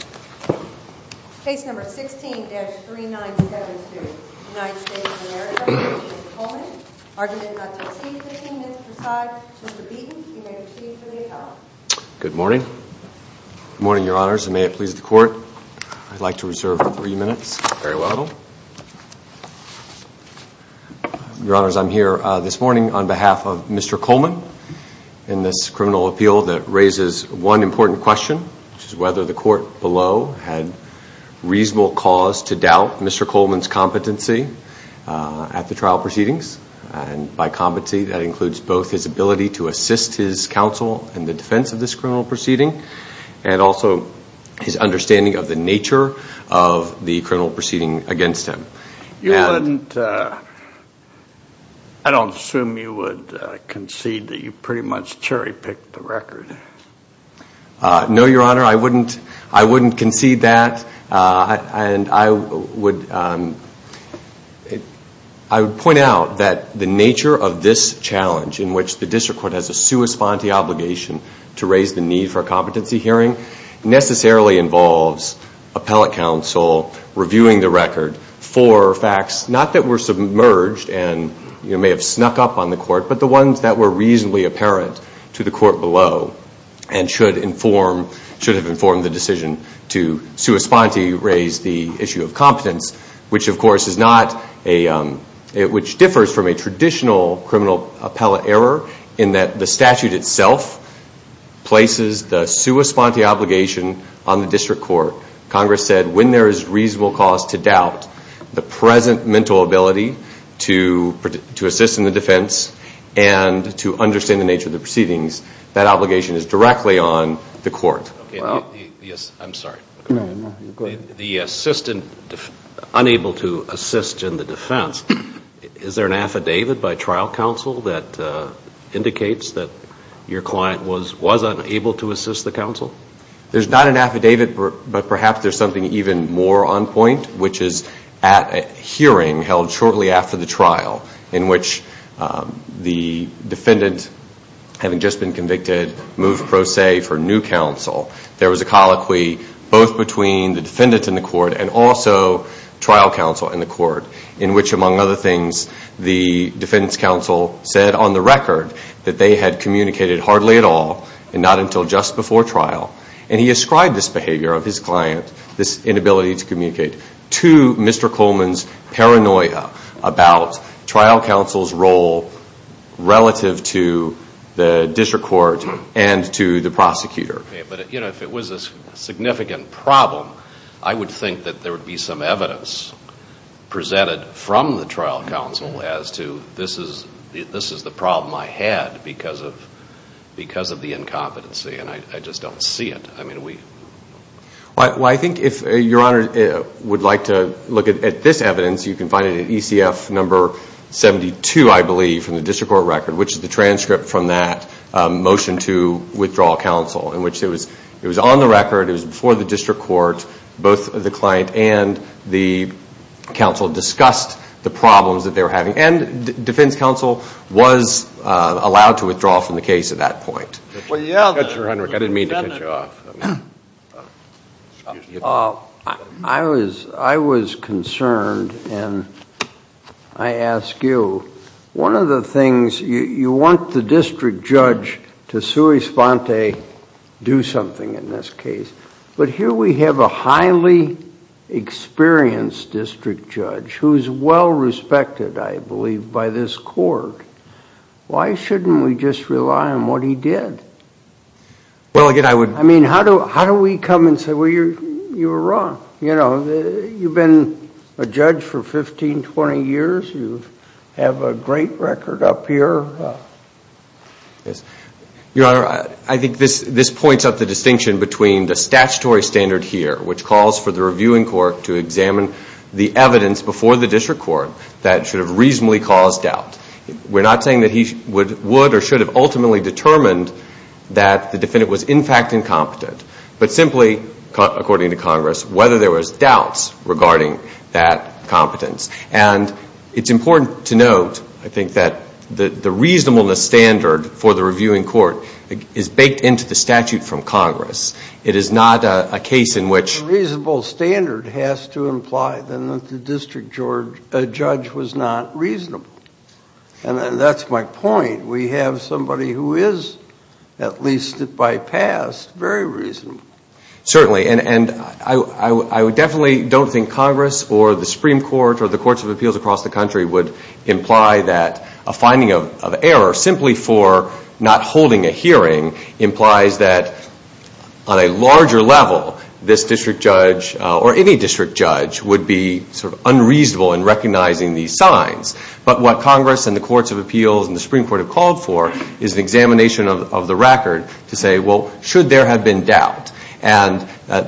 argument not to exceed 15 minutes per side. Mr. Beaton, you may proceed for the appellate. Good morning. Good morning, Your Honors, and may it please the Court, I'd like to reserve three minutes. Very well. Your Honors, I'm here this morning on behalf of Mr. Coleman in this criminal appeal that raises one important question, which is whether the court below had reasonable cause to doubt Mr. Coleman's competency at the trial proceedings, and by competency that includes both his ability to assist his counsel in the defense of this criminal proceeding and also his understanding of the nature of the criminal proceeding against him. You wouldn't, I don't assume you would concede that you pretty much cherry-picked the record. No, Your Honor, I wouldn't concede that, and I would point out that the nature of this challenge in which the district court has a sua sponte obligation to raise the need for a competency hearing necessarily involves appellate counsel reviewing the record for facts not that were submerged and may have snuck up on the court, but the ones that were reasonably apparent to the court below and should inform, should have informed the decision to sua sponte raise the issue of competence, which of course is not a, which differs from a traditional criminal appellate error in that the statute itself places the sua sponte obligation on the district court. Congress said when there is reasonable cause to doubt the present mental ability to assist in the defense and to understand the nature of the proceedings, that obligation is directly on the court. Yes, I'm sorry. The assistant, unable to assist in the defense, is there an affidavit by trial counsel that indicates that your client was unable to assist the counsel? There's not an affidavit, but perhaps there's something even more on point, which is at a hearing held shortly after the trial in which the defendant, having just been convicted, moved pro se for new counsel. There was a trial counsel in the court in which, among other things, the defense counsel said on the record that they had communicated hardly at all and not until just before trial. And he ascribed this behavior of his client, this inability to communicate, to Mr. Coleman's paranoia about trial counsel's role relative to the district court and to the prosecutor. But if it was a significant problem, I would think that there would be some evidence presented from the trial counsel as to this is the problem I had because of the incompetency. And I just don't see it. Well, I think if your honor would like to look at this evidence, you can find it at ECF number 72, I believe, from the district court record, which is the transcript from that motion to withdraw counsel in which it was on the record, it was before the district court, both the client and the counsel discussed the problems that they were having. And defense counsel was allowed to withdraw from the case at that point. Well, yeah, but your honor, I didn't mean to cut you off. I was concerned, and I ask you, one of the things, you want the district judge to sui sponte, do something in this case, but here we have a highly experienced district judge who is well respected, I believe, by this court. Why shouldn't we just rely on what he did? I mean, how do we come and say, well, you were wrong. You've been a judge for 15, 20 years. You have a great record up here. I think this points up the distinction between the statutory standard here, which calls for the reviewing court to examine the evidence before the district court that should have reasonably caused doubt. We're not saying that he would or should have ultimately determined that the defendant was in fact incompetent, but simply, according to Congress, whether there was doubts regarding that competence. And it's important to note, I think, that the reasonableness standard for the reviewing court is baked into the statute from Congress. It is not a case in which a reasonable standard has to imply that the district judge was not reasonable. And that's my point. We have somebody who is, at least by past, very reasonable. Certainly. And I definitely don't think Congress or the Supreme Court or the courts of appeals across the country would imply that a finding of error simply for not holding a hearing implies that, on a larger level, this district judge or any district judge would be sort of unreasonable in recognizing these signs. But what Congress and the courts of appeals and the Supreme Court have called for is an examination of the record to say, well, should there have been doubt? And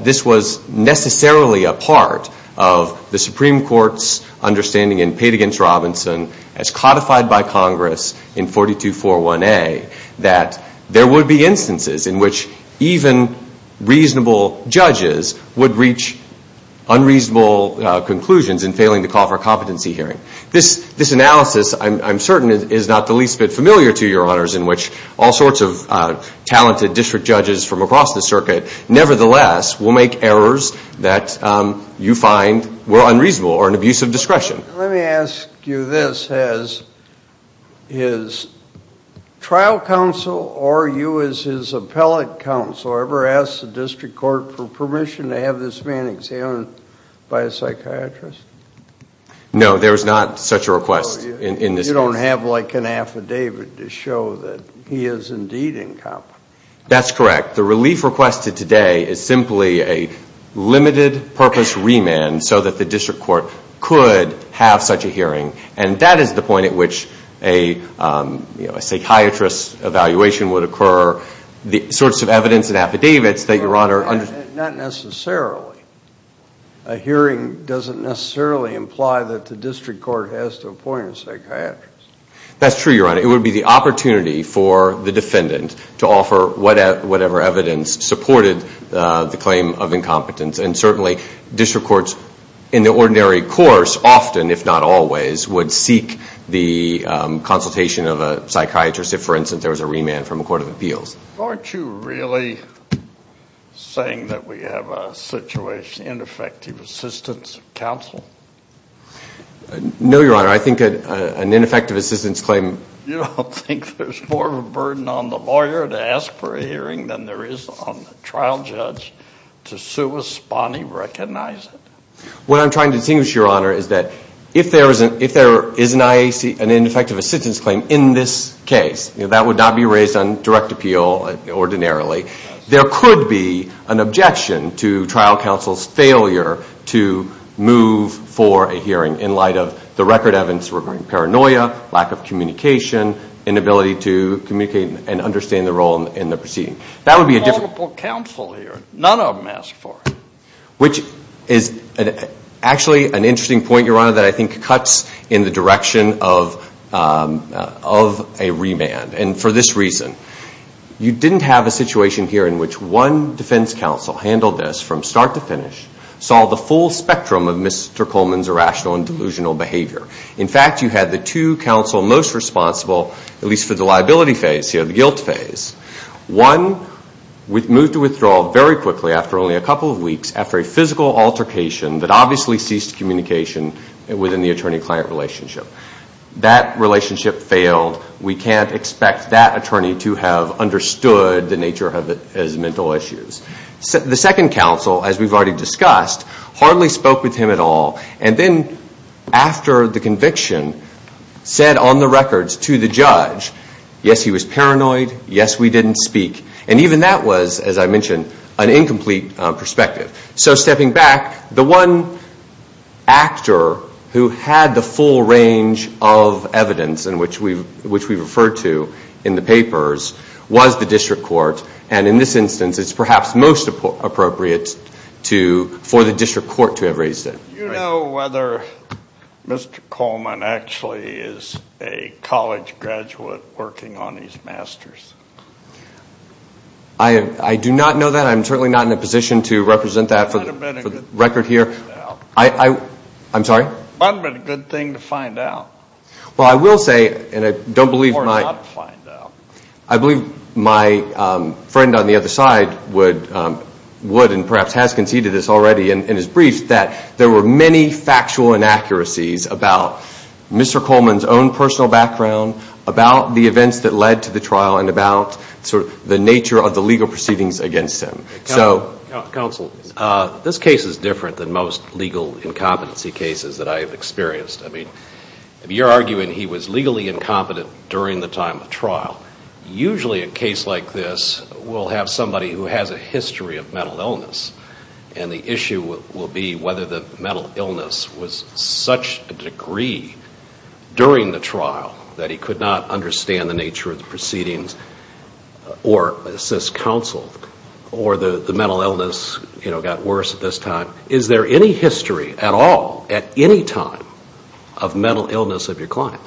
this was necessarily a part of the Supreme Court's understanding in Pate v. Robinson, as codified by Congress in 42-4-1A, that there would be instances in which even reasonable judges would reach unreasonable conclusions in failing to call for a competency hearing. This analysis, I'm certain, is not the least bit familiar to your honors in which all sorts of talented district judges from across the circuit, nevertheless, will make errors that you find were unreasonable or an abuse of discretion. Let me ask you this. Has his trial counsel or you as his appellate counsel ever asked the district court for permission to have this man examined by a psychiatrist? No, there is not such a request in this case. You don't have like an affidavit to show that he is indeed incompetent. That's correct. The relief requested today is simply a limited purpose remand so that the district court could have such a hearing. And that is the point at which a psychiatrist's evaluation would occur, the sorts of evidence and affidavits that your honor... Not necessarily. A hearing doesn't necessarily imply that the district court has to appoint a psychiatrist. That's true, your honor. It would be the opportunity for the defendant to offer whatever evidence supported the claim of incompetence. And certainly, district courts in the ordinary course often, if not always, would seek the consultation of a psychiatrist if, for instance, there was a remand from a court of appeals. Aren't you really saying that we have a situation, ineffective assistance of counsel? No, your honor. I think an ineffective assistance claim... You don't think there's more of a burden on the lawyer to ask for a hearing than there is on the trial judge to sua spani recognize it? What I'm trying to distinguish, your honor, is that if there is an ineffective assistance claim in this case, that would not be raised on direct appeal ordinarily. There could be an objection to trial counsel's failure to move for a hearing in light of the record evidence regarding paranoia, lack of communication, inability to communicate and understand the role in the proceeding. There are multiple counsel here. None of them asked for a hearing. Which is actually an interesting point, your honor, that I think cuts in the direction of a remand. And for this reason, you didn't have a situation here in which one defense counsel handled this from start to finish, saw the full spectrum of Mr. Coleman's irrational and delusional behavior. In fact, you had the two counsel most responsible, at least for the liability phase here, the guilt phase. One moved to withdrawal very quickly after only a couple of weeks after a physical altercation that obviously ceased communication within the attorney-client relationship. That relationship failed. We can't expect that attorney to have understood the nature of it as mental issues. The second counsel, as we've already discussed, hardly spoke with him at all. And then after the conviction, said on the records to the judge, yes, he was paranoid, yes, we didn't speak. And even that was, as I mentioned, an incomplete perspective. So stepping back, the one actor who had the full range of evidence, which we referred to in the papers, was the district court. And in this instance, it's perhaps most appropriate for the district court to have raised it. Do you know whether Mr. Coleman actually is a college graduate working on his master's? I do not know that. I'm certainly not in a position to represent that for the record here. It might have been a good thing to find out. I'm sorry? It might have been a good thing to find out. Well, I will say, and I don't believe my friend on the other side would and perhaps has conceded this already in his brief, that there were many factual inaccuracies about Mr. Coleman's own personal background, about the events that led to the trial, and about the nature of the legal proceedings against him. Counsel, this case is different than most legal incompetency cases that I have experienced. I mean, if you're arguing he was legally incompetent during the time of trial, usually a case like this will have somebody who has a history of mental illness. And the issue will be whether the mental illness was such a degree during the trial that he could not understand the nature of the proceedings or assist counsel, or the mental illness got worse at this time. Is there any history at all, at any time, of mental illness of your client?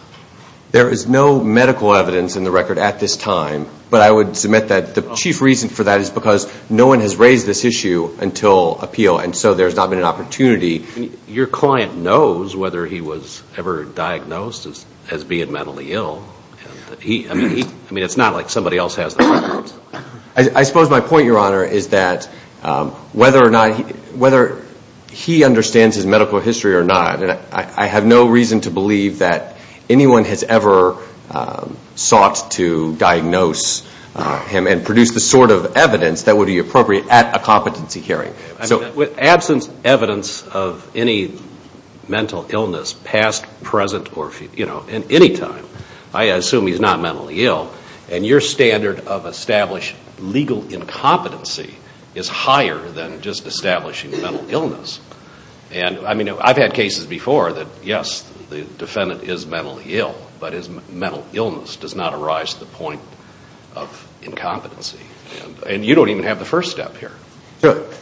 There is no medical evidence in the record at this time, but I would submit that the chief reason for that is because no one has raised this issue until appeal, and so there's not been an opportunity. Your client knows whether he was ever diagnosed as being mentally ill. I mean, it's not like somebody else has the records. I suppose my point, Your Honor, is that whether or not he understands his medical history or not, I have no reason to believe that anyone has ever sought to diagnose him and produce the sort of evidence that would be appropriate at a competency hearing. With absence of evidence of any mental illness, past, present, or future, you know, at any time, to establish legal incompetency is higher than just establishing mental illness. And I mean, I've had cases before that, yes, the defendant is mentally ill, but his mental illness does not arise to the point of incompetency. And you don't even have the first step here.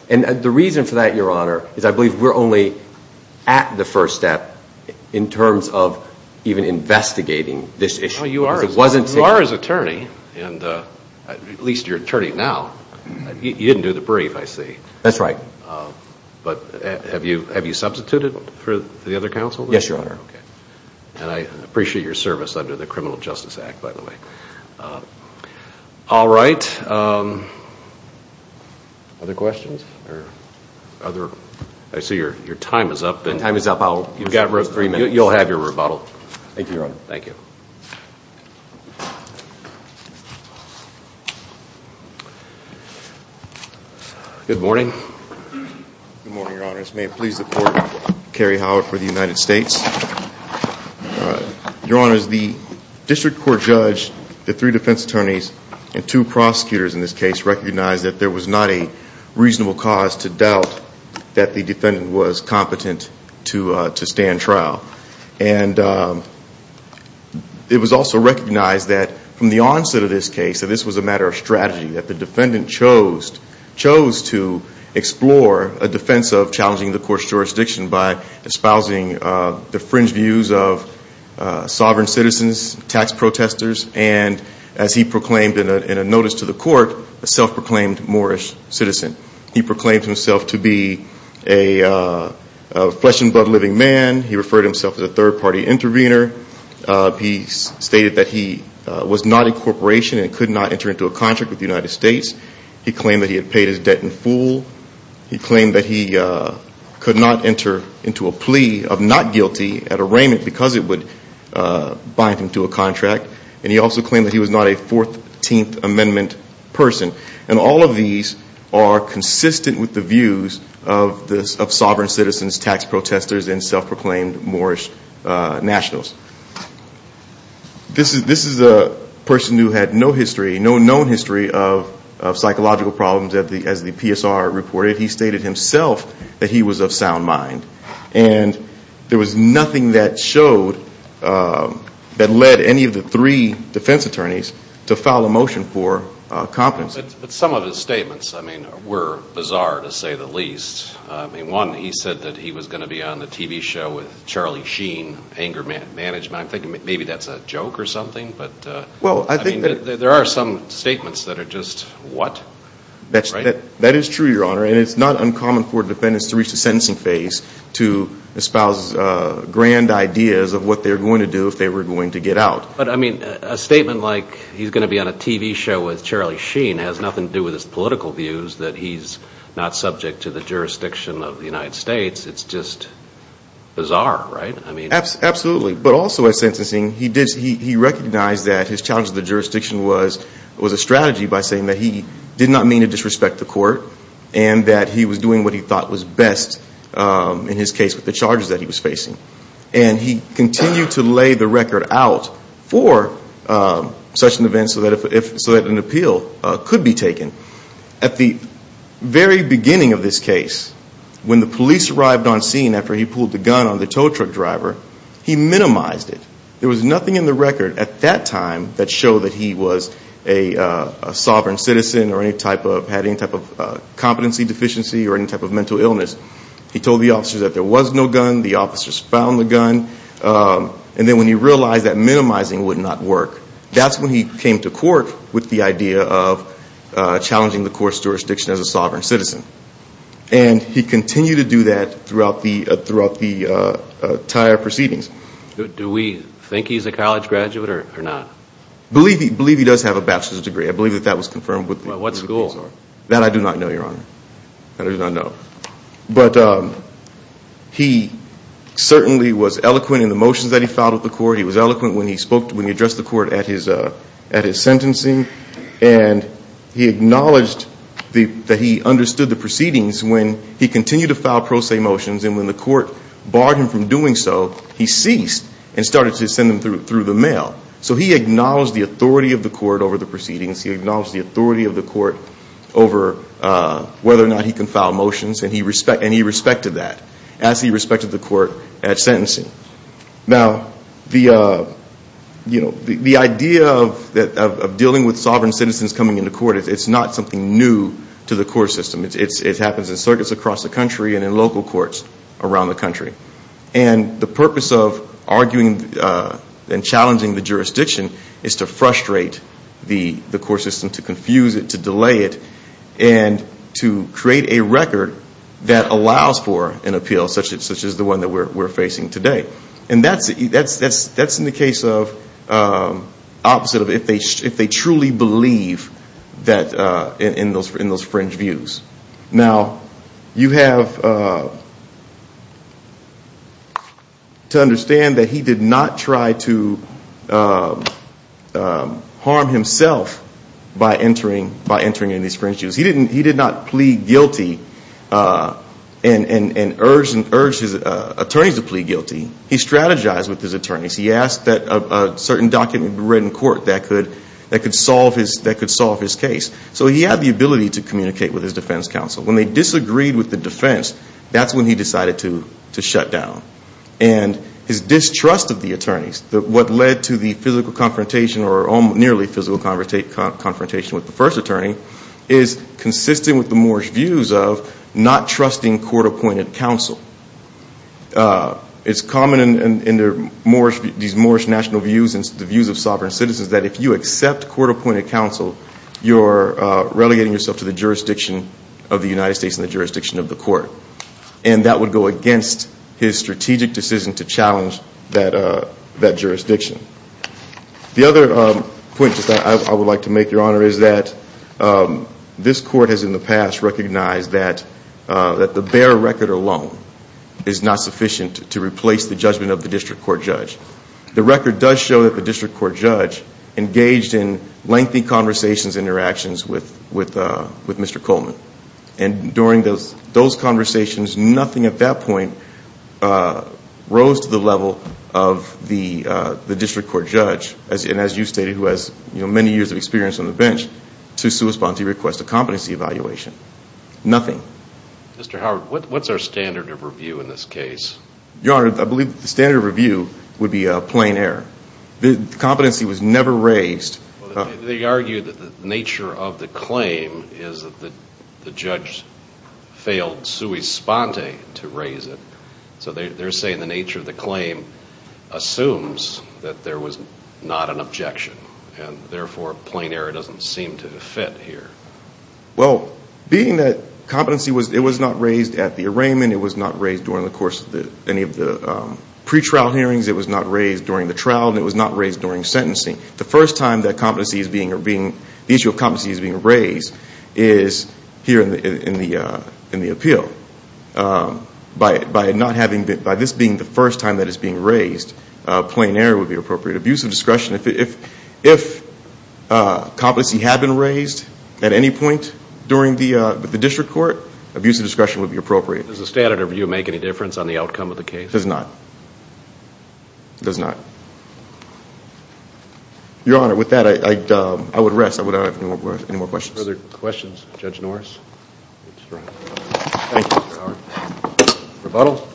And the reason for that, Your Honor, is I believe we're only at the first step in terms of even investigating this issue. No, you are. You are his attorney, at least your attorney now. You didn't do the brief, I see. That's right. But have you substituted for the other counsel? Yes, Your Honor. And I appreciate your service under the Criminal Justice Act, by the way. All right. Other questions? I see your time is up. My time is up. You'll have your rebuttal. Thank you, Your Honor. Thank you. Good morning. Good morning, Your Honors. May it please the Court, Kerry Howard for the United States. Your Honors, the District Court judge, the three defense attorneys, and two prosecutors in this case recognized that there was not a reasonable cause to doubt that the defendant was competent to stand trial. And it was also recognized that from the onset of this case that this was a matter of strategy, that the defendant chose to explore a defense of challenging the Court's jurisdiction by espousing the fringe views of sovereign citizens, tax protesters, and as he proclaimed in a notice to the Court, a self-proclaimed Moorish citizen. He proclaimed himself to be a flesh-and-blood living man. He referred to himself as a third-party intervener. He stated that he was not a corporation and could not enter into a contract with the United States. He claimed that he had paid his debt in full. He claimed that he could not enter into a plea of not guilty at arraignment because it would bind him to a contract. And he also challenged the views of sovereign citizens, tax protesters, and self-proclaimed Moorish nationals. This is a person who had no history, no known history of psychological problems as the PSR reported. He stated himself that he was of sound mind. And there was nothing that showed, that led any of the three defense attorneys to file a motion for competence. Some of his statements were bizarre, to say the least. One, he said that he was going to be on a TV show with Charlie Sheen, anger management. I'm thinking maybe that's a joke or something. There are some statements that are just, what? That is true, Your Honor, and it's not uncommon for defendants to reach the sentencing phase to espouse grand ideas of what they're going to do if they were going to get out. But I mean, a statement like he's going to be on a TV show with Charlie Sheen has nothing to do with his political views, that he's not subject to the jurisdiction of the United States. It's just bizarre, right? Absolutely. But also at sentencing, he recognized that his challenge to the jurisdiction was a strategy by saying that he did not mean to disrespect the court and that he was doing what he thought was best in his case with the charges that he was facing. And he continued to lay the record out for such an event so that an appeal could be taken. At the very beginning of this case, when the police arrived on scene after he pulled the gun on the tow truck driver, he minimized it. There was nothing in the record at that time that showed that he was a sovereign citizen or had any type of competency deficiency or any type of mental illness. He told the officers that there was no gun, the officers found the gun. And then when he realized that minimizing would not work, that's when he came to court with the idea of challenging the court's jurisdiction as a sovereign citizen. And he continued to do that throughout the entire proceedings. Do we think he's a college graduate or not? Believe he does have a bachelor's degree. I believe that that was confirmed with the police officer. What school? That I do not know, Your Honor. That I do not know. But he certainly was eloquent in the motions that he filed with the court. He was eloquent when he addressed the court at his sentencing. And he acknowledged that he understood the proceedings when he continued to file pro se motions. And when the court barred him from doing so, he ceased and started to send them through the mail. So he acknowledged the authority of the court over the proceedings. He acknowledged the authority of the court over whether or not he can file motions. And he respected that as he respected the court at sentencing. Now the idea of dealing with sovereign citizens coming into court, it's not something new to the court system. It happens in circuits across the country and in local courts around the country. And the purpose of arguing and challenging the jurisdiction is to frustrate the court system, to confuse it, to delay it, and to create a record that allows for an appeal such as the one that we're facing today. And that's in the case of opposite of if they truly believe in those fringe views. Now you have to understand that he did not try to harm the court system. He did not try to harm himself by entering into these fringe views. He did not plead guilty and urge his attorneys to plead guilty. He strategized with his attorneys. He asked that a certain document be read in court that could solve his case. So he had the ability to communicate with his defense counsel. When they disagreed with the defense, that's when he decided to shut down. And his distrust of the attorneys, what led to the physical confrontation or nearly physical confrontation with the first attorney, is consistent with the Moorish views of not trusting court-appointed counsel. It's common in these Moorish national views and the views of sovereign citizens that if you accept court-appointed counsel, you're relegating yourself to the jurisdiction of the United States and the jurisdiction of the court. And that would go against his strategic decision to challenge that jurisdiction. The other point I would like to make, Your Honor, is that this court has in the past recognized that the bare record alone is not sufficient to replace the judgment of the district court judge. The record does show that the district court judge engaged in lengthy conversations and interactions with Mr. Coleman. And during those conversations, nothing at the level of the district court judge, and as you stated, who has many years of experience on the bench, to sui sponte request a competency evaluation. Nothing. Mr. Howard, what's our standard of review in this case? Your Honor, I believe the standard of review would be a plain error. The competency was never raised. They argue that the nature of the claim is that the judge failed sui sponte to raise it. So they're saying the nature of the claim assumes that there was not an objection. And therefore, plain error doesn't seem to fit here. Well, being that competency was not raised at the arraignment, it was not raised during the course of any of the pretrial hearings, it was not raised during the trial, and it was not raised during sentencing, the first time that competency is being, the issue of competency is here in the appeal. By not having, by this being the first time that it's being raised, plain error would be appropriate. Abuse of discretion, if competency had been raised at any point during the, with the district court, abuse of discretion would be appropriate. Does the standard of review make any difference on the outcome of the case? It does not. It does not. Your Honor, with that I would rest. I don't have any more questions. No further questions for Judge Norris? Thank you, Mr. Howard. Rebuttal?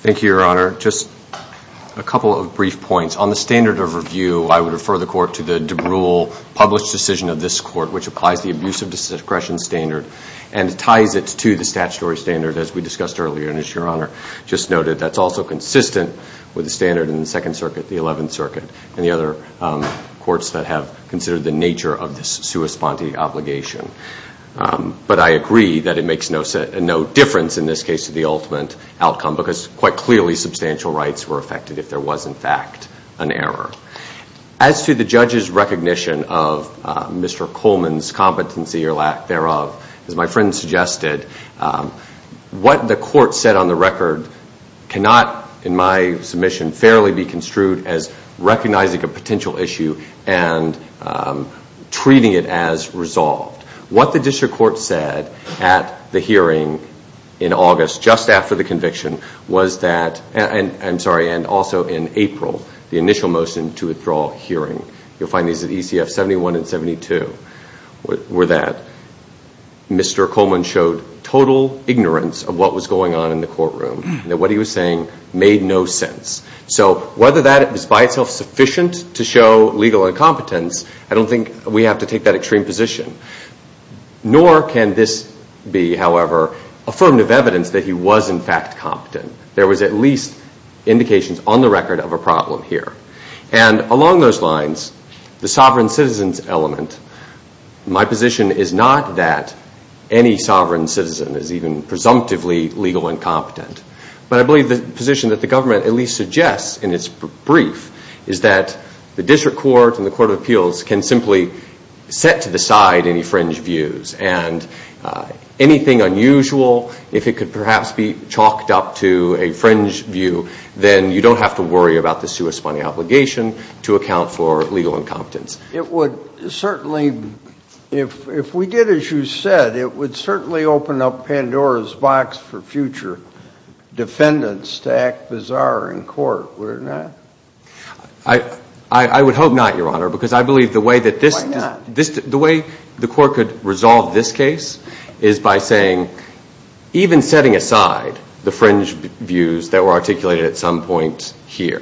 Thank you, Your Honor. Just a couple of brief points. On the standard of review, I would refer the court to the De Brule published decision of this court, which applies the abuse of discretion standard, and ties it to the statutory standard, as we discussed earlier. And as Your Honor just noted, that's also consistent with the standard in the Second Circuit and the other courts that have considered the nature of this sua sponte obligation. But I agree that it makes no difference in this case to the ultimate outcome, because quite clearly substantial rights were affected if there was, in fact, an error. As to the judge's recognition of Mr. Coleman's competency or lack thereof, as my friend suggested, what the court said on the record cannot, in my submission, fairly be construed as recognizing a potential issue and treating it as resolved. What the district court said at the hearing in August, just after the conviction, was that, and also in April, the initial motion to withdraw hearing, you'll find these at ECF 71 and 72, were that Mr. Coleman showed total ignorance of what was going on in the courtroom and that what he was saying made no sense. So whether that is by itself sufficient to show legal incompetence, I don't think we have to take that extreme position. Nor can this be, however, affirmative evidence that he was, in fact, competent. There was at least indications on the record of a problem here. And along those lines, the sovereign citizens element, my position is not that any sovereign citizen is even presumptively legal incompetent. But I believe the position that the government at least suggests in its brief is that the district court and the Court of Appeals can simply set to the side any fringe views. And anything unusual, if it could perhaps be chalked up to a fringe view, then you don't have to worry about the suespone obligation to account for legal incompetence. It would certainly, if we did as you said, it would certainly open up Pandora's box for future defendants to act bizarre in court, would it not? I would hope not, Your Honor, because I believe the way that this... Why not? The way the court could resolve this case is by saying, even setting aside the fringe views that were articulated at some point here,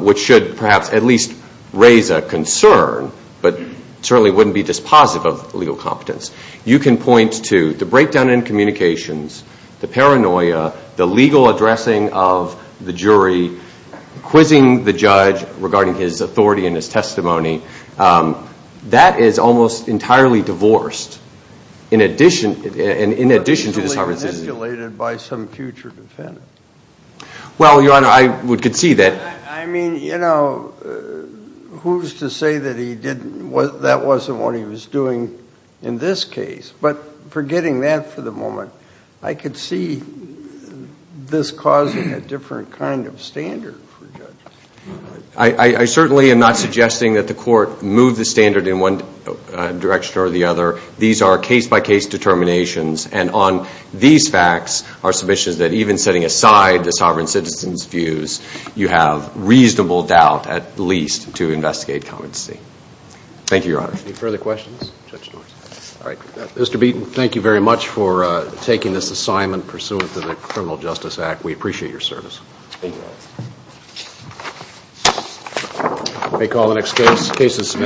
which should perhaps at least raise a concern, but certainly wouldn't be dispositive of legal competence. You can point to the breakdown in communications, the paranoia, the legal addressing of the jury, quizzing the judge regarding his authority and his testimony. That is almost entirely divorced in addition to the sovereign citizen... ...speculated by some future defendant. Well, Your Honor, I would concede that... I mean, you know, who's to say that he didn't, that wasn't what he was doing in this case? But forgetting that for the moment, I could see this causing a different kind of standard for judges. I certainly am not suggesting that the court move the standard in one direction or the other. I'm suggesting that the court move the standard in the other direction. I'm just suggesting that the court move the standard in the other direction. Thank you, Your Honor. Any further questions? Judge Norton. All right. Mr. Beaton, thank you very much for taking this assignment pursuant to the Criminal Justice Act. We appreciate your service. Thank you. May call the next case. Case is submitted.